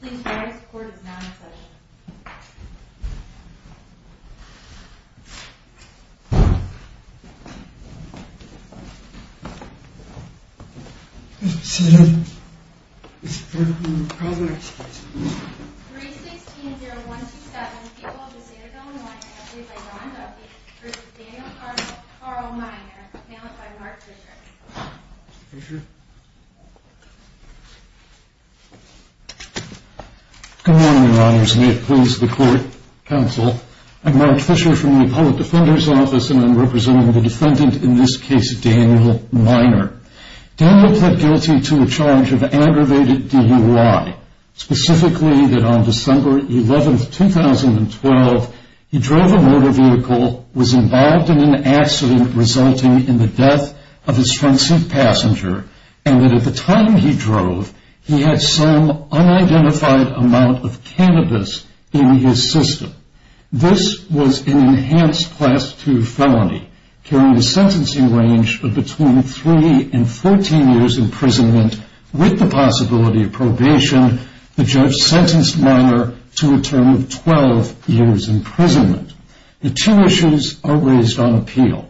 Please note, this court is not in session. 3-16-0127, people of the Citadel and Winery, appealed by John Duffy v. Daniel Carl Minor, appealed by Mark Fisher. Good morning, Your Honors. May it please the Court, Counsel, I'm Mark Fisher from the Public Defender's Office and I'm representing the defendant, in this case, Daniel Minor. Daniel pled guilty to a charge of aggravated DUI, specifically that on December 11, 2012, he drove a motor vehicle, was involved in an accident resulting in the death of his front seat passenger, and that at the time he drove, he had some unidentified amount of cannabis in his system. This was an enhanced Class II felony, carrying a sentencing range of between 3 and 14 years imprisonment, with the possibility of probation. The judge sentenced Minor to a term of 12 years imprisonment. The two issues are raised on appeal.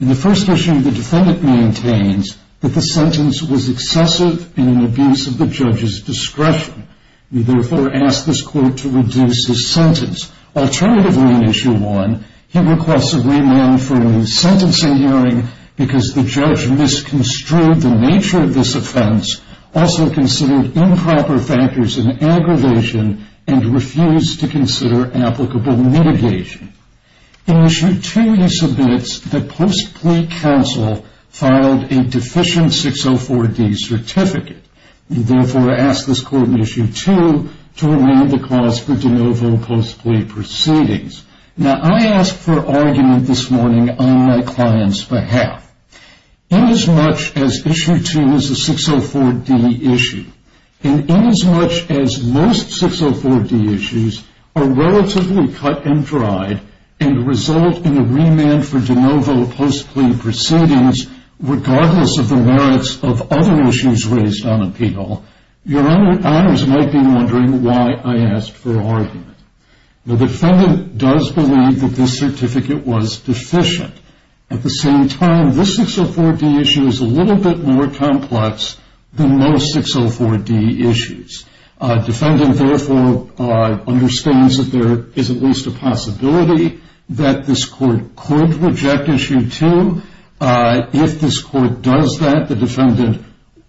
In the first issue, the defendant maintains that the sentence was excessive in abuse of the judge's discretion. We therefore ask this court to reduce his sentence. Alternatively, in Issue 1, he requests a remand for a new sentencing hearing because the judge misconstrued the nature of this offense, also considered improper factors in aggravation, and refused to consider applicable mitigation. In Issue 2, he submits that post plea counsel filed a deficient 604D certificate. We therefore ask this court in Issue 2 to remand the clause for de novo post plea proceedings. Now, I ask for argument this morning on my client's behalf. Inasmuch as Issue 2 is a 604D issue, and inasmuch as most 604D issues are relatively cut and dried, and result in a remand for de novo post plea proceedings, regardless of the merits of other issues raised on appeal, your honors might be wondering why I asked for argument. The defendant does believe that this certificate was deficient. At the same time, this 604D issue is a little bit more complex than most 604D issues. Defendant therefore understands that there is at least a possibility that this court could reject Issue 2. If this court does that, the defendant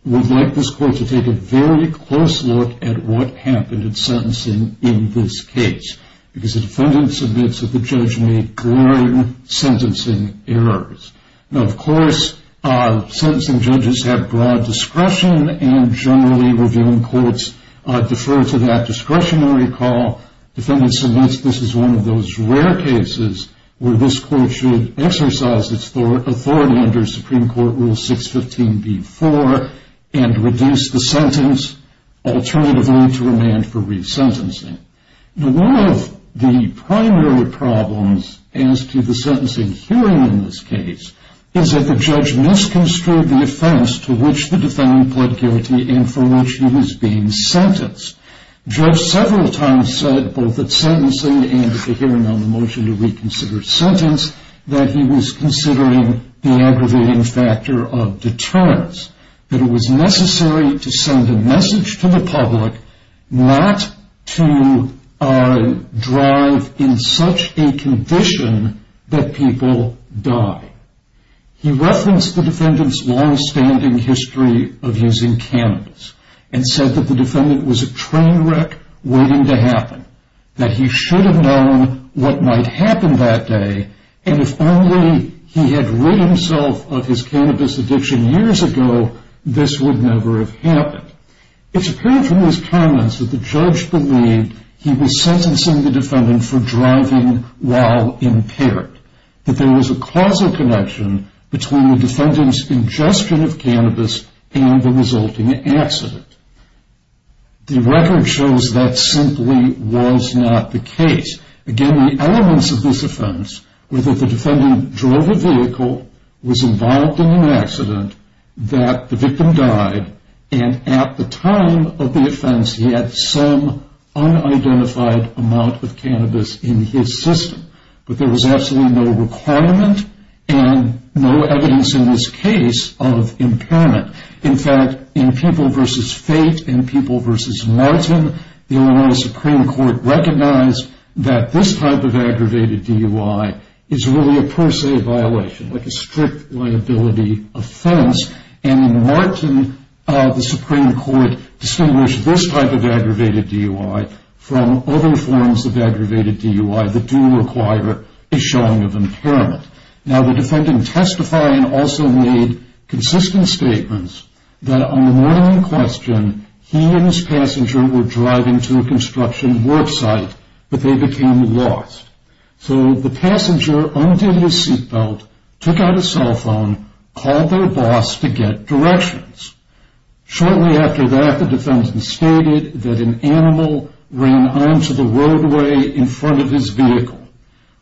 would like this court to take a very close look at what happened in sentencing in this case, because the defendant submits that the judge made glaring sentencing errors. Of course, sentencing judges have broad discretion and generally revealing courts defer to that discretionary call. Defendant submits this is one of those rare cases where this court should exercise its authority under Supreme Court Rule 615b-4 and reduce the sentence alternatively to remand for resentencing. Now, one of the primary problems as to the sentencing hearing in this case is that the judge misconstrued the offense to which the defendant pled guilty and for which he was being sentenced. Judge several times said, both at sentencing and at the hearing on the motion to reconsider sentence, that he was considering the aggravating factor of deterrence. That it was necessary to send a message to the public not to drive in such a condition that people die. He referenced the defendant's long-standing history of using cannabis and said that the defendant was a train wreck waiting to happen. That he should have known what might happen that day, and if only he had rid himself of his cannabis addiction years ago, this would never have happened. It's apparent from his comments that the judge believed he was sentencing the defendant for driving while impaired. That there was a causal connection between the defendant's ingestion of cannabis and the resulting accident. The record shows that simply was not the case. Again, the elements of this offense were that the defendant drove a vehicle, was involved in an accident, that the victim died, and at the time of the offense he had some unidentified amount of cannabis in his system. But there was absolutely no requirement and no evidence in this case of impairment. In fact, in People v. Fate and People v. Martin, the Illinois Supreme Court recognized that this type of aggravated DUI is really a per se violation, like a strict liability offense. And in Martin, the Supreme Court distinguished this type of aggravated DUI from other forms of aggravated DUI that do require a showing of impairment. Now, the defendant testified and also made consistent statements that on the morning in question, he and his passenger were driving to a construction work site, but they became lost. So, the passenger undid his seat belt, took out his cell phone, called their boss to get directions. Shortly after that, the defendant stated that an animal ran onto the roadway in front of his vehicle,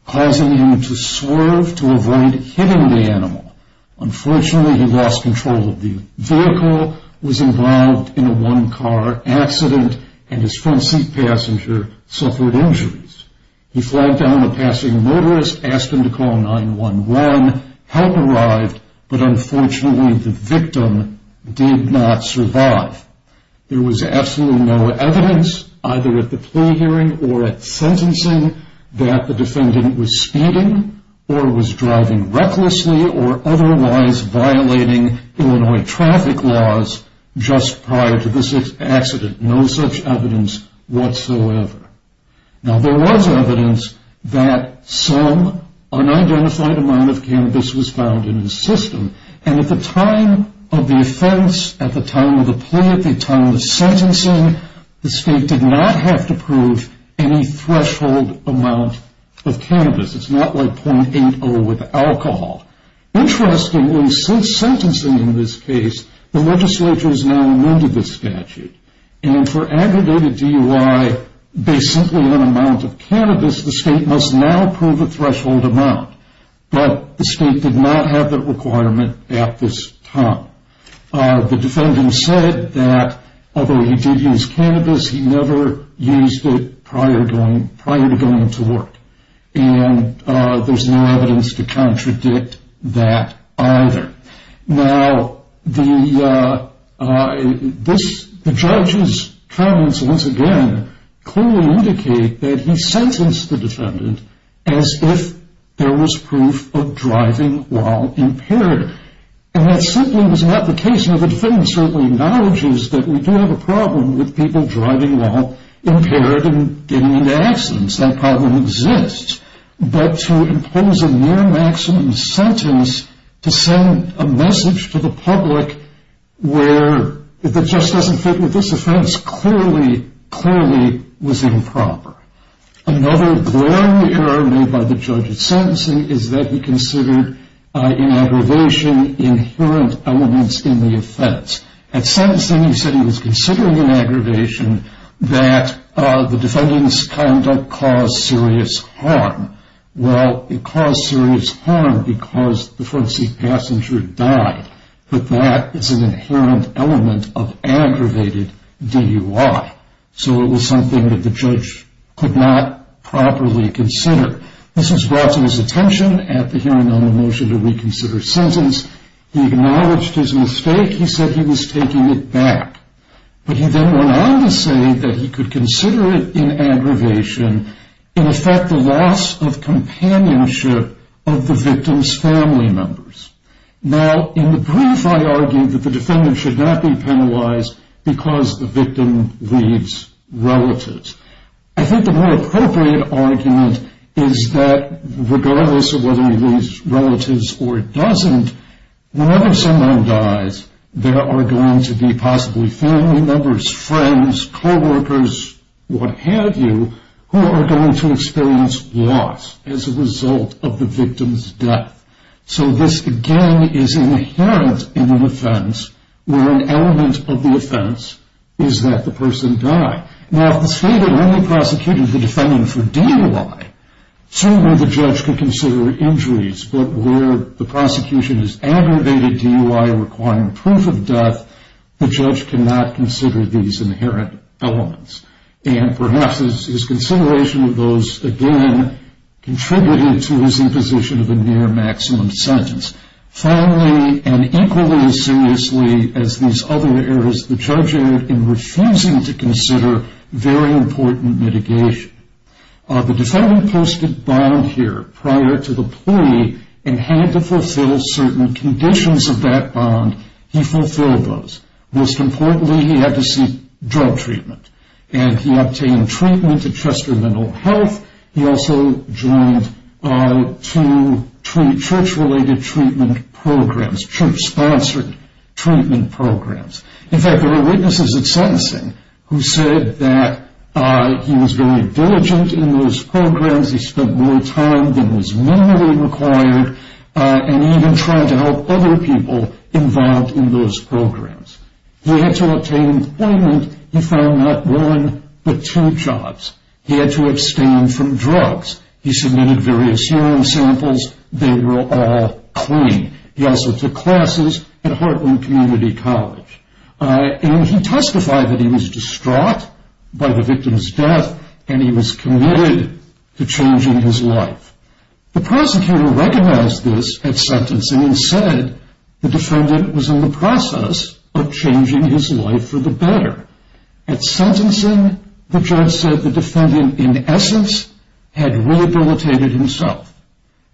causing him to swerve to avoid hitting the animal. Unfortunately, he lost control of the vehicle, was involved in a one-car accident, and his front seat passenger suffered injuries. He flagged down the passing motorist, asked him to call 911, help arrived, but unfortunately the victim did not survive. There was absolutely no evidence, either at the plea hearing or at sentencing, that the defendant was speeding or was driving recklessly or otherwise violating Illinois traffic laws just prior to this accident. No such evidence whatsoever. Now, there was evidence that some unidentified amount of cannabis was found in his system, and at the time of the plea, at the time of the sentencing, the state did not have to prove any threshold amount of cannabis. It's not like .80 with alcohol. Interestingly, since sentencing in this case, the legislature has now amended the statute, and for aggregated DUI based simply on amount of cannabis, the state must now prove a threshold amount, but the state did not have that requirement at this time. The defendant said that although he did use cannabis, he never used it prior to going to work, and there's no evidence to contradict that either. Now, the judge's comments, once again, clearly indicate that he sentenced the defendant as if there was proof of driving while impaired, and that simply was not the case. Now, the defendant certainly acknowledges that we do have a problem with people driving while impaired and getting into accidents. That problem exists, but to impose a near maximum sentence to send a message to the public that just doesn't fit with this offense clearly, clearly was improper. Another blaring error made by the judge at sentencing is that he considered in aggravation inherent elements in the offense. At sentencing, he said he was considering in aggravation that the defendant's conduct caused serious harm. Well, it caused serious harm because the front seat passenger died, but that is an inherent element of aggravated DUI. So it was something that the judge could not properly consider. This was brought to his attention at the hearing on the motion to reconsider sentence. He acknowledged his mistake. He said he was taking it back, but he then went on to say that he could consider it in aggravation in effect the loss of companionship of the victim's family members. Now, in the brief, I argued that the defendant should not be penalized because the victim leaves relatives. I think the more is that regardless of whether he leaves relatives or doesn't, whenever someone dies, there are going to be possibly family members, friends, coworkers, what have you, who are going to experience loss as a result of the victim's death. So this, again, is inherent in an offense where an element of the offense is that the person died. Now, if the state had only prosecuted the case, certainly the judge could consider injuries, but where the prosecution is aggravated DUI requiring proof of death, the judge cannot consider these inherent elements. And perhaps his consideration of those, again, contributed to his imposition of a near-maximum sentence. Finally, and equally as seriously as these other errors, the judge in refusing to consider very important mitigation. The defendant posted bond here prior to the plea and had to fulfill certain conditions of that bond. He fulfilled those. Most importantly, he had to seek drug treatment. And he obtained treatment at Chester Mental Health. He also joined two church-related treatment programs, church-sponsored treatment programs. In fact, there were witnesses at sentencing who said that he was very diligent in those programs, he spent more time than was minimally required, and he even tried to help other people involved in those programs. He had to obtain employment. He found not one, but two jobs. He had to abstain from drugs. He submitted various urine samples. They were all clean. He also took classes at Heartland Community College. And he testified that he was distraught by the victim's death and he was committed to changing his life. The prosecutor recognized this at sentencing and said the defendant was in the process of changing his life for the better. At sentencing, the judge said the defendant, in essence, had rehabilitated himself.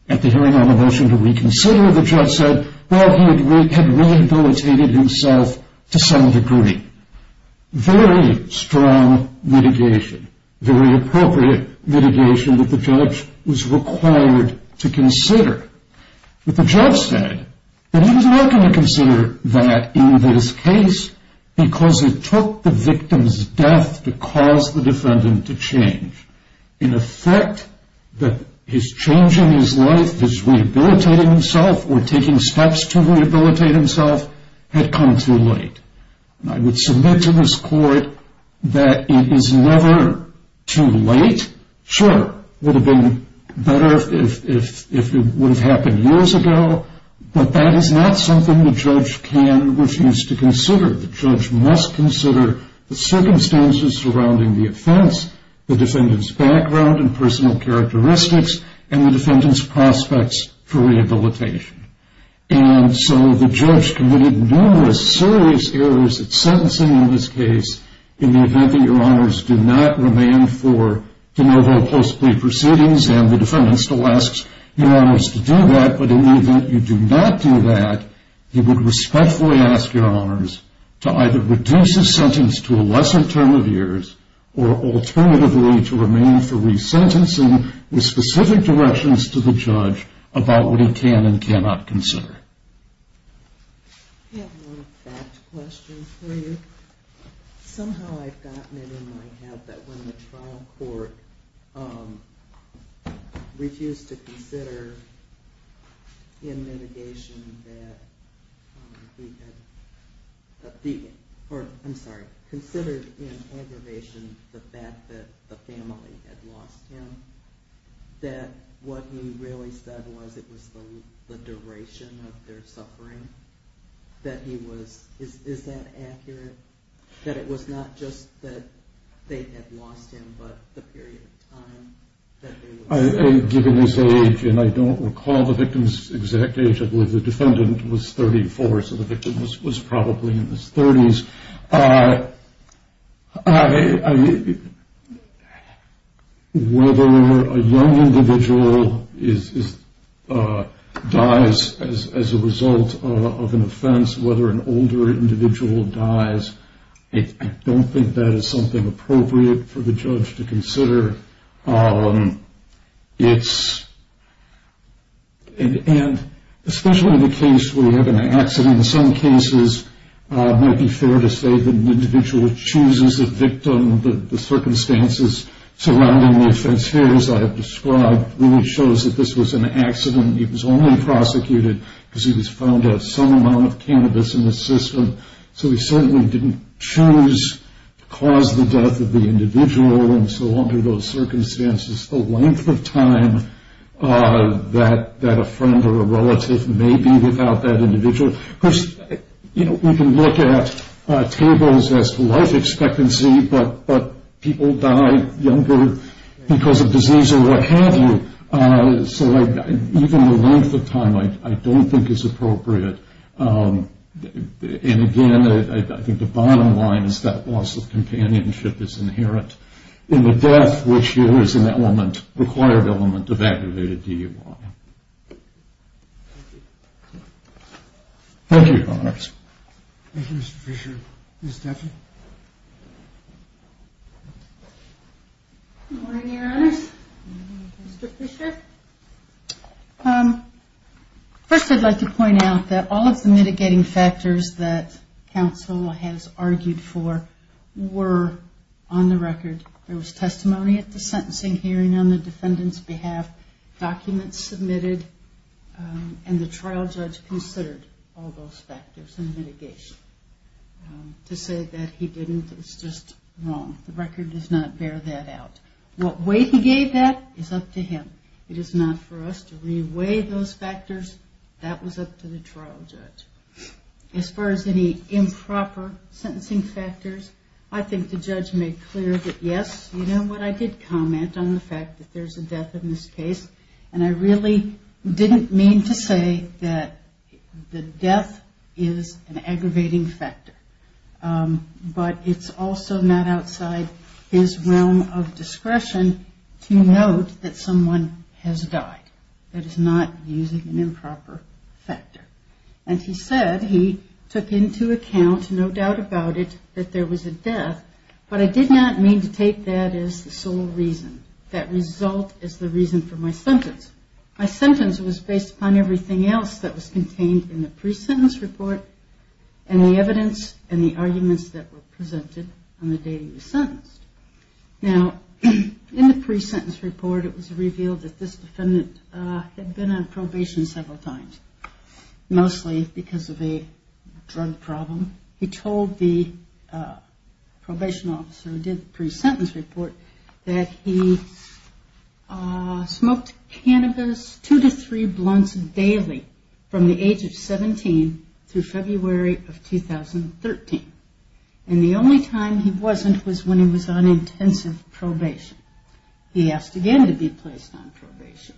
At the hearing on the motion to reconsider, the judge said, well, he had rehabilitated himself to some degree. Very strong mitigation. Very appropriate mitigation that the judge was required to consider. But the judge said that he was not going to consider that in this case because it took the victim's death to cause the defendant to change. In effect, his changing his life, his rehabilitating himself, or taking steps to rehabilitate himself had come too late. I would submit to this court that it is never too late. Sure, it would have been better if it would have happened years ago, but that is not something the judge can refuse to consider. The judge must consider the circumstances surrounding the offense, the defendant's background and personal characteristics, and the defendant's prospects for rehabilitation. And so the judge committed numerous serious errors at sentencing in this case in the event that your honors do not remain for de novo post-plea proceedings, and the defendant still asks your honors to do that, but in the event you do not do that, he would respectfully ask your honors to either reduce his sentence to a lesser term of years, or alternatively to remain for resentencing with specific directions to the judge about what he can and cannot consider. I have one fact question for you. Somehow I've gotten it in my head that when the trial court refused to consider in litigation that he had considered in aggravation the fact that the family had lost him, that what he really said was it was the duration of their suffering that he was...is that accurate? That it was not just that they had lost him but the period of time that they were... Given his age, and I don't recall the victim's exact age, the defendant was 34, so the victim was probably in his 30s. I... whether a young individual dies as a result of an offense, whether an older individual dies, I don't think that is something appropriate for the judge to consider. It's... and especially in the case where you have an accident, in some way to say that an individual chooses a victim, the circumstances surrounding the offense here, as I have described, really shows that this was an accident. He was only prosecuted because he was found out of some amount of cannabis in the system. So he certainly didn't choose to cause the death of the individual, and so under those circumstances the length of time that a friend or a relative may be without that individual... Of course, we can look at tables as to life expectancy, but people die younger because of disease or what have you, so even the length of time I don't think is appropriate. And again, I think the bottom line is that loss of companionship is inherent in the death, which here is an element, required element, of activated DUI. Thank you, Your Honors. Thank you, Mr. Fisher. Ms. Duffy? Good morning, Your Honors. Mr. Fisher? First, I'd like to point out that all of the mitigating factors that counsel has argued for were on the record. There was testimony at the sentencing hearing on the defendant's case, and the trial judge considered all those factors and mitigation. To say that he didn't is just wrong. The record does not bear that out. What way he gave that is up to him. It is not for us to re-weigh those factors. That was up to the trial judge. As far as any improper sentencing factors, I think the judge made clear that, yes, you know what, I did comment on the fact that there's a death in this case, and I really didn't mean to say that the death is an aggravating factor. But it's also not outside his realm of discretion to note that someone has died. That is not using an improper factor. And he said he took into account, no doubt about it, that there was a death, but I did not mean to take that as the sole reason. That result is the reason for my sentence. My sentence was based upon everything else that was contained in the pre-sentence report and the evidence and the arguments that were presented on the day he was sentenced. Now, in the pre-sentence report, it was revealed that this defendant had been on probation several times, mostly because of a drug problem. He told the probation officer who did the pre-sentence report that he smoked cannabis two to three blunts daily from the age of 17 through February of 2013. And the only time he wasn't was when he was on intensive probation. He asked again to be placed on probation.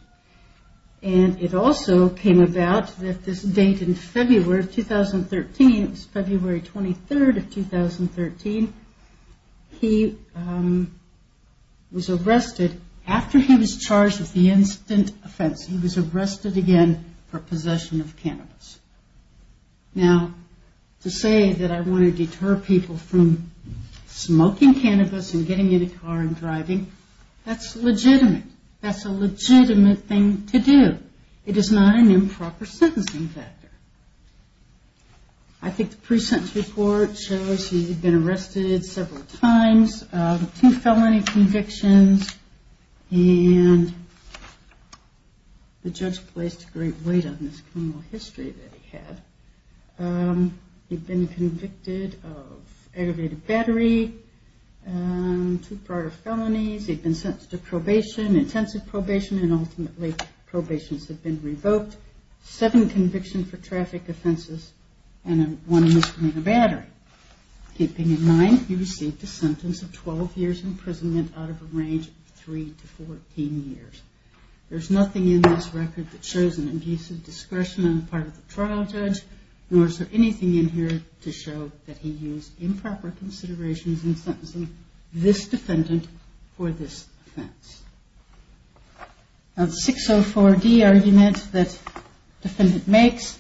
And it also came about that this date in February of 2013, it was February 23rd of 2013, he was arrested after he was charged with the instant offense. He was arrested again for possession of cannabis. Now, to say that I want to deter people from smoking cannabis and getting in a car and driving, that's legitimate. That's a legitimate thing to do. It is not an improper sentencing factor. I think the pre-sentence report shows he'd been arrested several times, two felony convictions, and the judge placed great weight on this criminal history that he had. He'd been convicted of aggravated battery, two prior felonies, he'd been sentenced to probation, intensive probation, and ultimately probation had been revoked, seven convictions for traffic offenses, and one misdemeanor battery. Keeping in mind he received a sentence of 12 years imprisonment out of a range of 3 to 14 years. There's nothing in this record that shows an abusive discretion on the part of the trial judge, nor is there anything in here to show that he used improper considerations in sentencing this defendant for this offense. Now, the 604D argument that the defendant makes,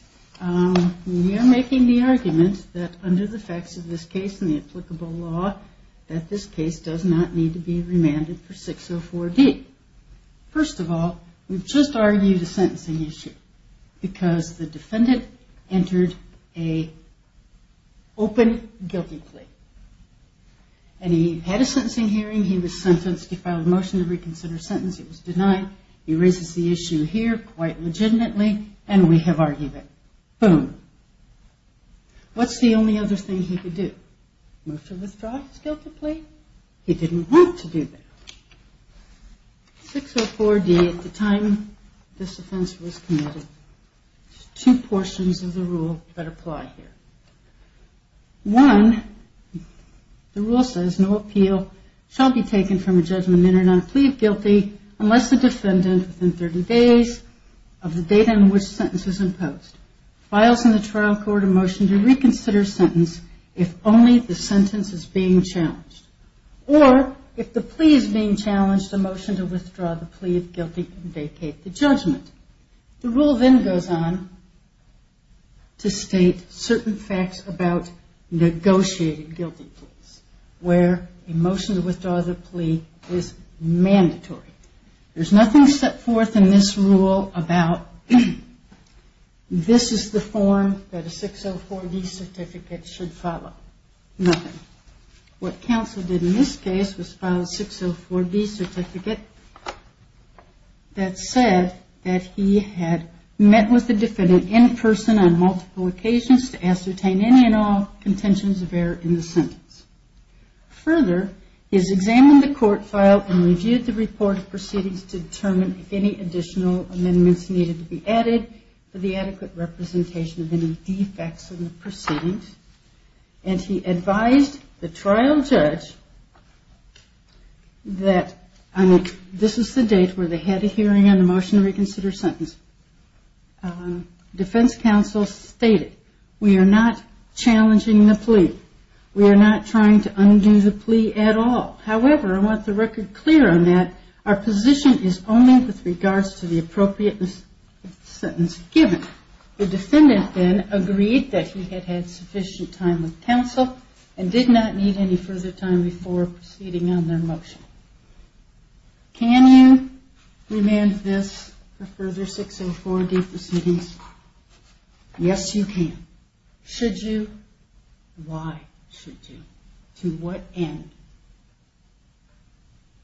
we are making the argument that under the facts of this case and the applicable law, that this case does not need to be remanded for 604D. First of all, we've just argued a sentencing issue because the defendant entered an open guilty plea. And he had a sentencing hearing, he was sentenced, he filed a motion to reconsider his sentence, he was denied, he raises the issue here quite legitimately, and we have argued it. Boom. What's the only other thing he could do? Move to withdraw his guilty plea? He didn't want to do that. 604D, at the time this offense was committed, there's two portions of the rule that apply here. One, the rule says, no appeal shall be taken from a judgment entered on a plea of guilty unless the date on which the sentence is imposed. Files in the trial court a motion to reconsider a sentence if only the sentence is being challenged. Or, if the plea is being challenged, a motion to withdraw the plea of guilty and vacate the judgment. The rule then goes on to state certain facts about negotiated guilty pleas, where a motion to withdraw the plea is mandatory. There's nothing set forth in this rule about this is the form that a 604D certificate should follow. Nothing. What counsel did in this case was file a 604D certificate that said that he had met with the defendant in person on multiple occasions to ascertain any and all contentions of error in the sentence. Further, he has examined the court file and reviewed the report of proceedings to determine if any additional amendments needed to be added for the adequate representation of any defects in the proceedings. And he advised the trial judge that this is the date where they had a hearing on the motion to reconsider a sentence. Defense counsel stated, we are not challenging the plea. We are not trying to undo the plea at all. However, I want the record clear on that. Our position is only with regards to the appropriateness of the sentence given. The defendant then agreed that he had had sufficient time with counsel and did not need any further time before proceeding on their motion. Can you remand this for further 604D proceedings? Yes, you can. Should you? Why should you? To what end?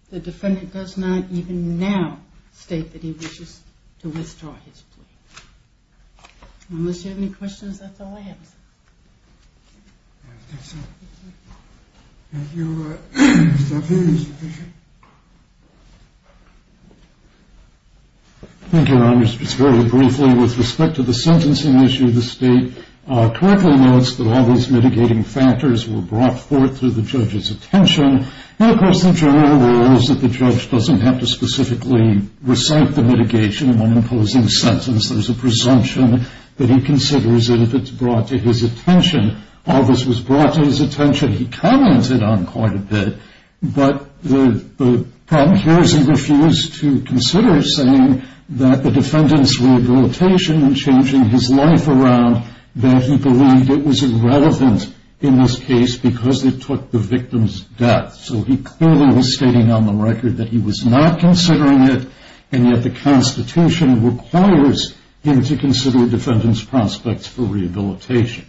The defendant does not, even now, state that he wishes to withdraw his plea. Unless you have any questions, that's all I have, sir. Thank you. Thank you, Mr. Avery. Thank you, Your Honor. Just very briefly, with respect to the sentencing issue, the state correctly notes that all those mitigating factors were brought forth to the judge's attention. And, of course, the general rule is that the judge doesn't have to specifically recite the mitigation in one imposing sentence. There's a presumption that he considers that if it's brought to his attention, all this was brought to his attention. He comments it on quite a bit, but the problem here is he refused to consider saying that the defendant's rehabilitation and changing his life around that he believed it was irrelevant in this case because it took the victim's death. So he clearly was stating on the record that he was not considering it, and yet the Constitution requires him to consider the defendant's prospects for rehabilitation.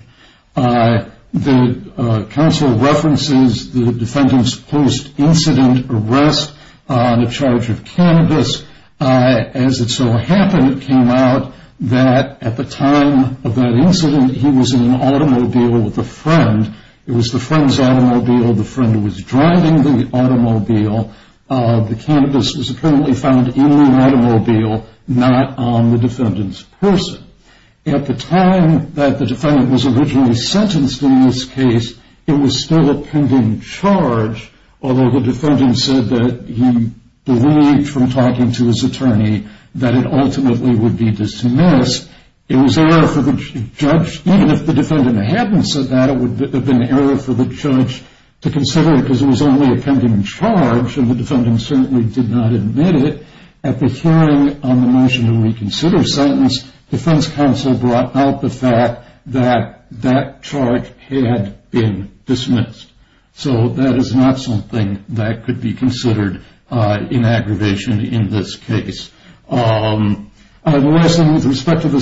The counsel references the defendant's post-incident arrest on a charge of cannabis. As it so happened, it came out that at the time of that incident, he was in an automobile with a friend. It was the friend's automobile. The friend was driving the automobile. The cannabis was apparently found in the automobile, not on the defendant's person. At the time that the defendant was originally sentenced in this case, it was still a pending charge, although the defendant said that he believed from talking to his attorney that it ultimately would be dismissed, it was error for the judge, even if the defendant hadn't said that, it would have been error for the judge to consider it because it was only a pending charge, and the defendant certainly did not admit it. At the hearing on the motion to reconsider sentence, defense counsel brought out the fact that that charge had been dismissed. So that is not something that could be considered an aggravation in this case. The last thing with respect to the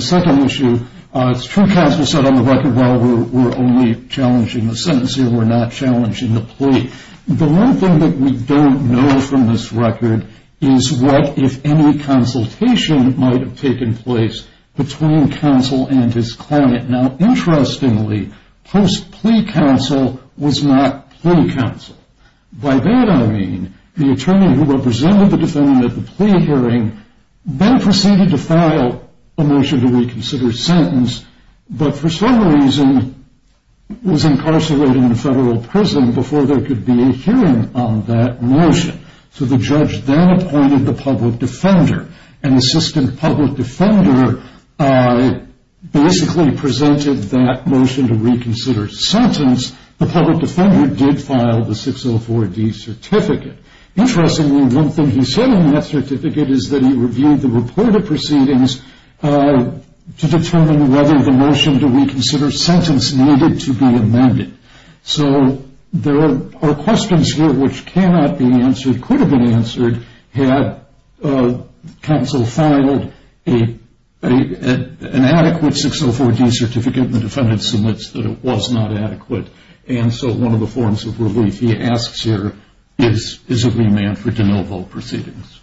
second issue, it's true counsel said on the record, well, we're only challenging the sentence here, we're not challenging the plea. The one thing that we don't know from this record is what if any consultation might have taken place between counsel and his client. Now, interestingly, post-plea counsel was not plea counsel. By that I mean the attorney who represented the defendant at the plea hearing then proceeded to file a motion to reconsider sentence, but for some reason was incarcerated in federal prison before there could be a hearing on that motion. So the judge then appointed the public defender, and the assistant public defender basically presented that motion to reconsider sentence. The public defender did file the 604D certificate. Interestingly, one thing he said in that certificate is that he reviewed the report of proceedings to determine whether the motion to reconsider sentence needed to be amended. So there are questions here which cannot be answered, could have been answered, had counsel filed an adequate 604D certificate, and the defendant submits that it was not adequate. And so one of the forms of relief he asks here is a remand for de novo proceedings. Thank you.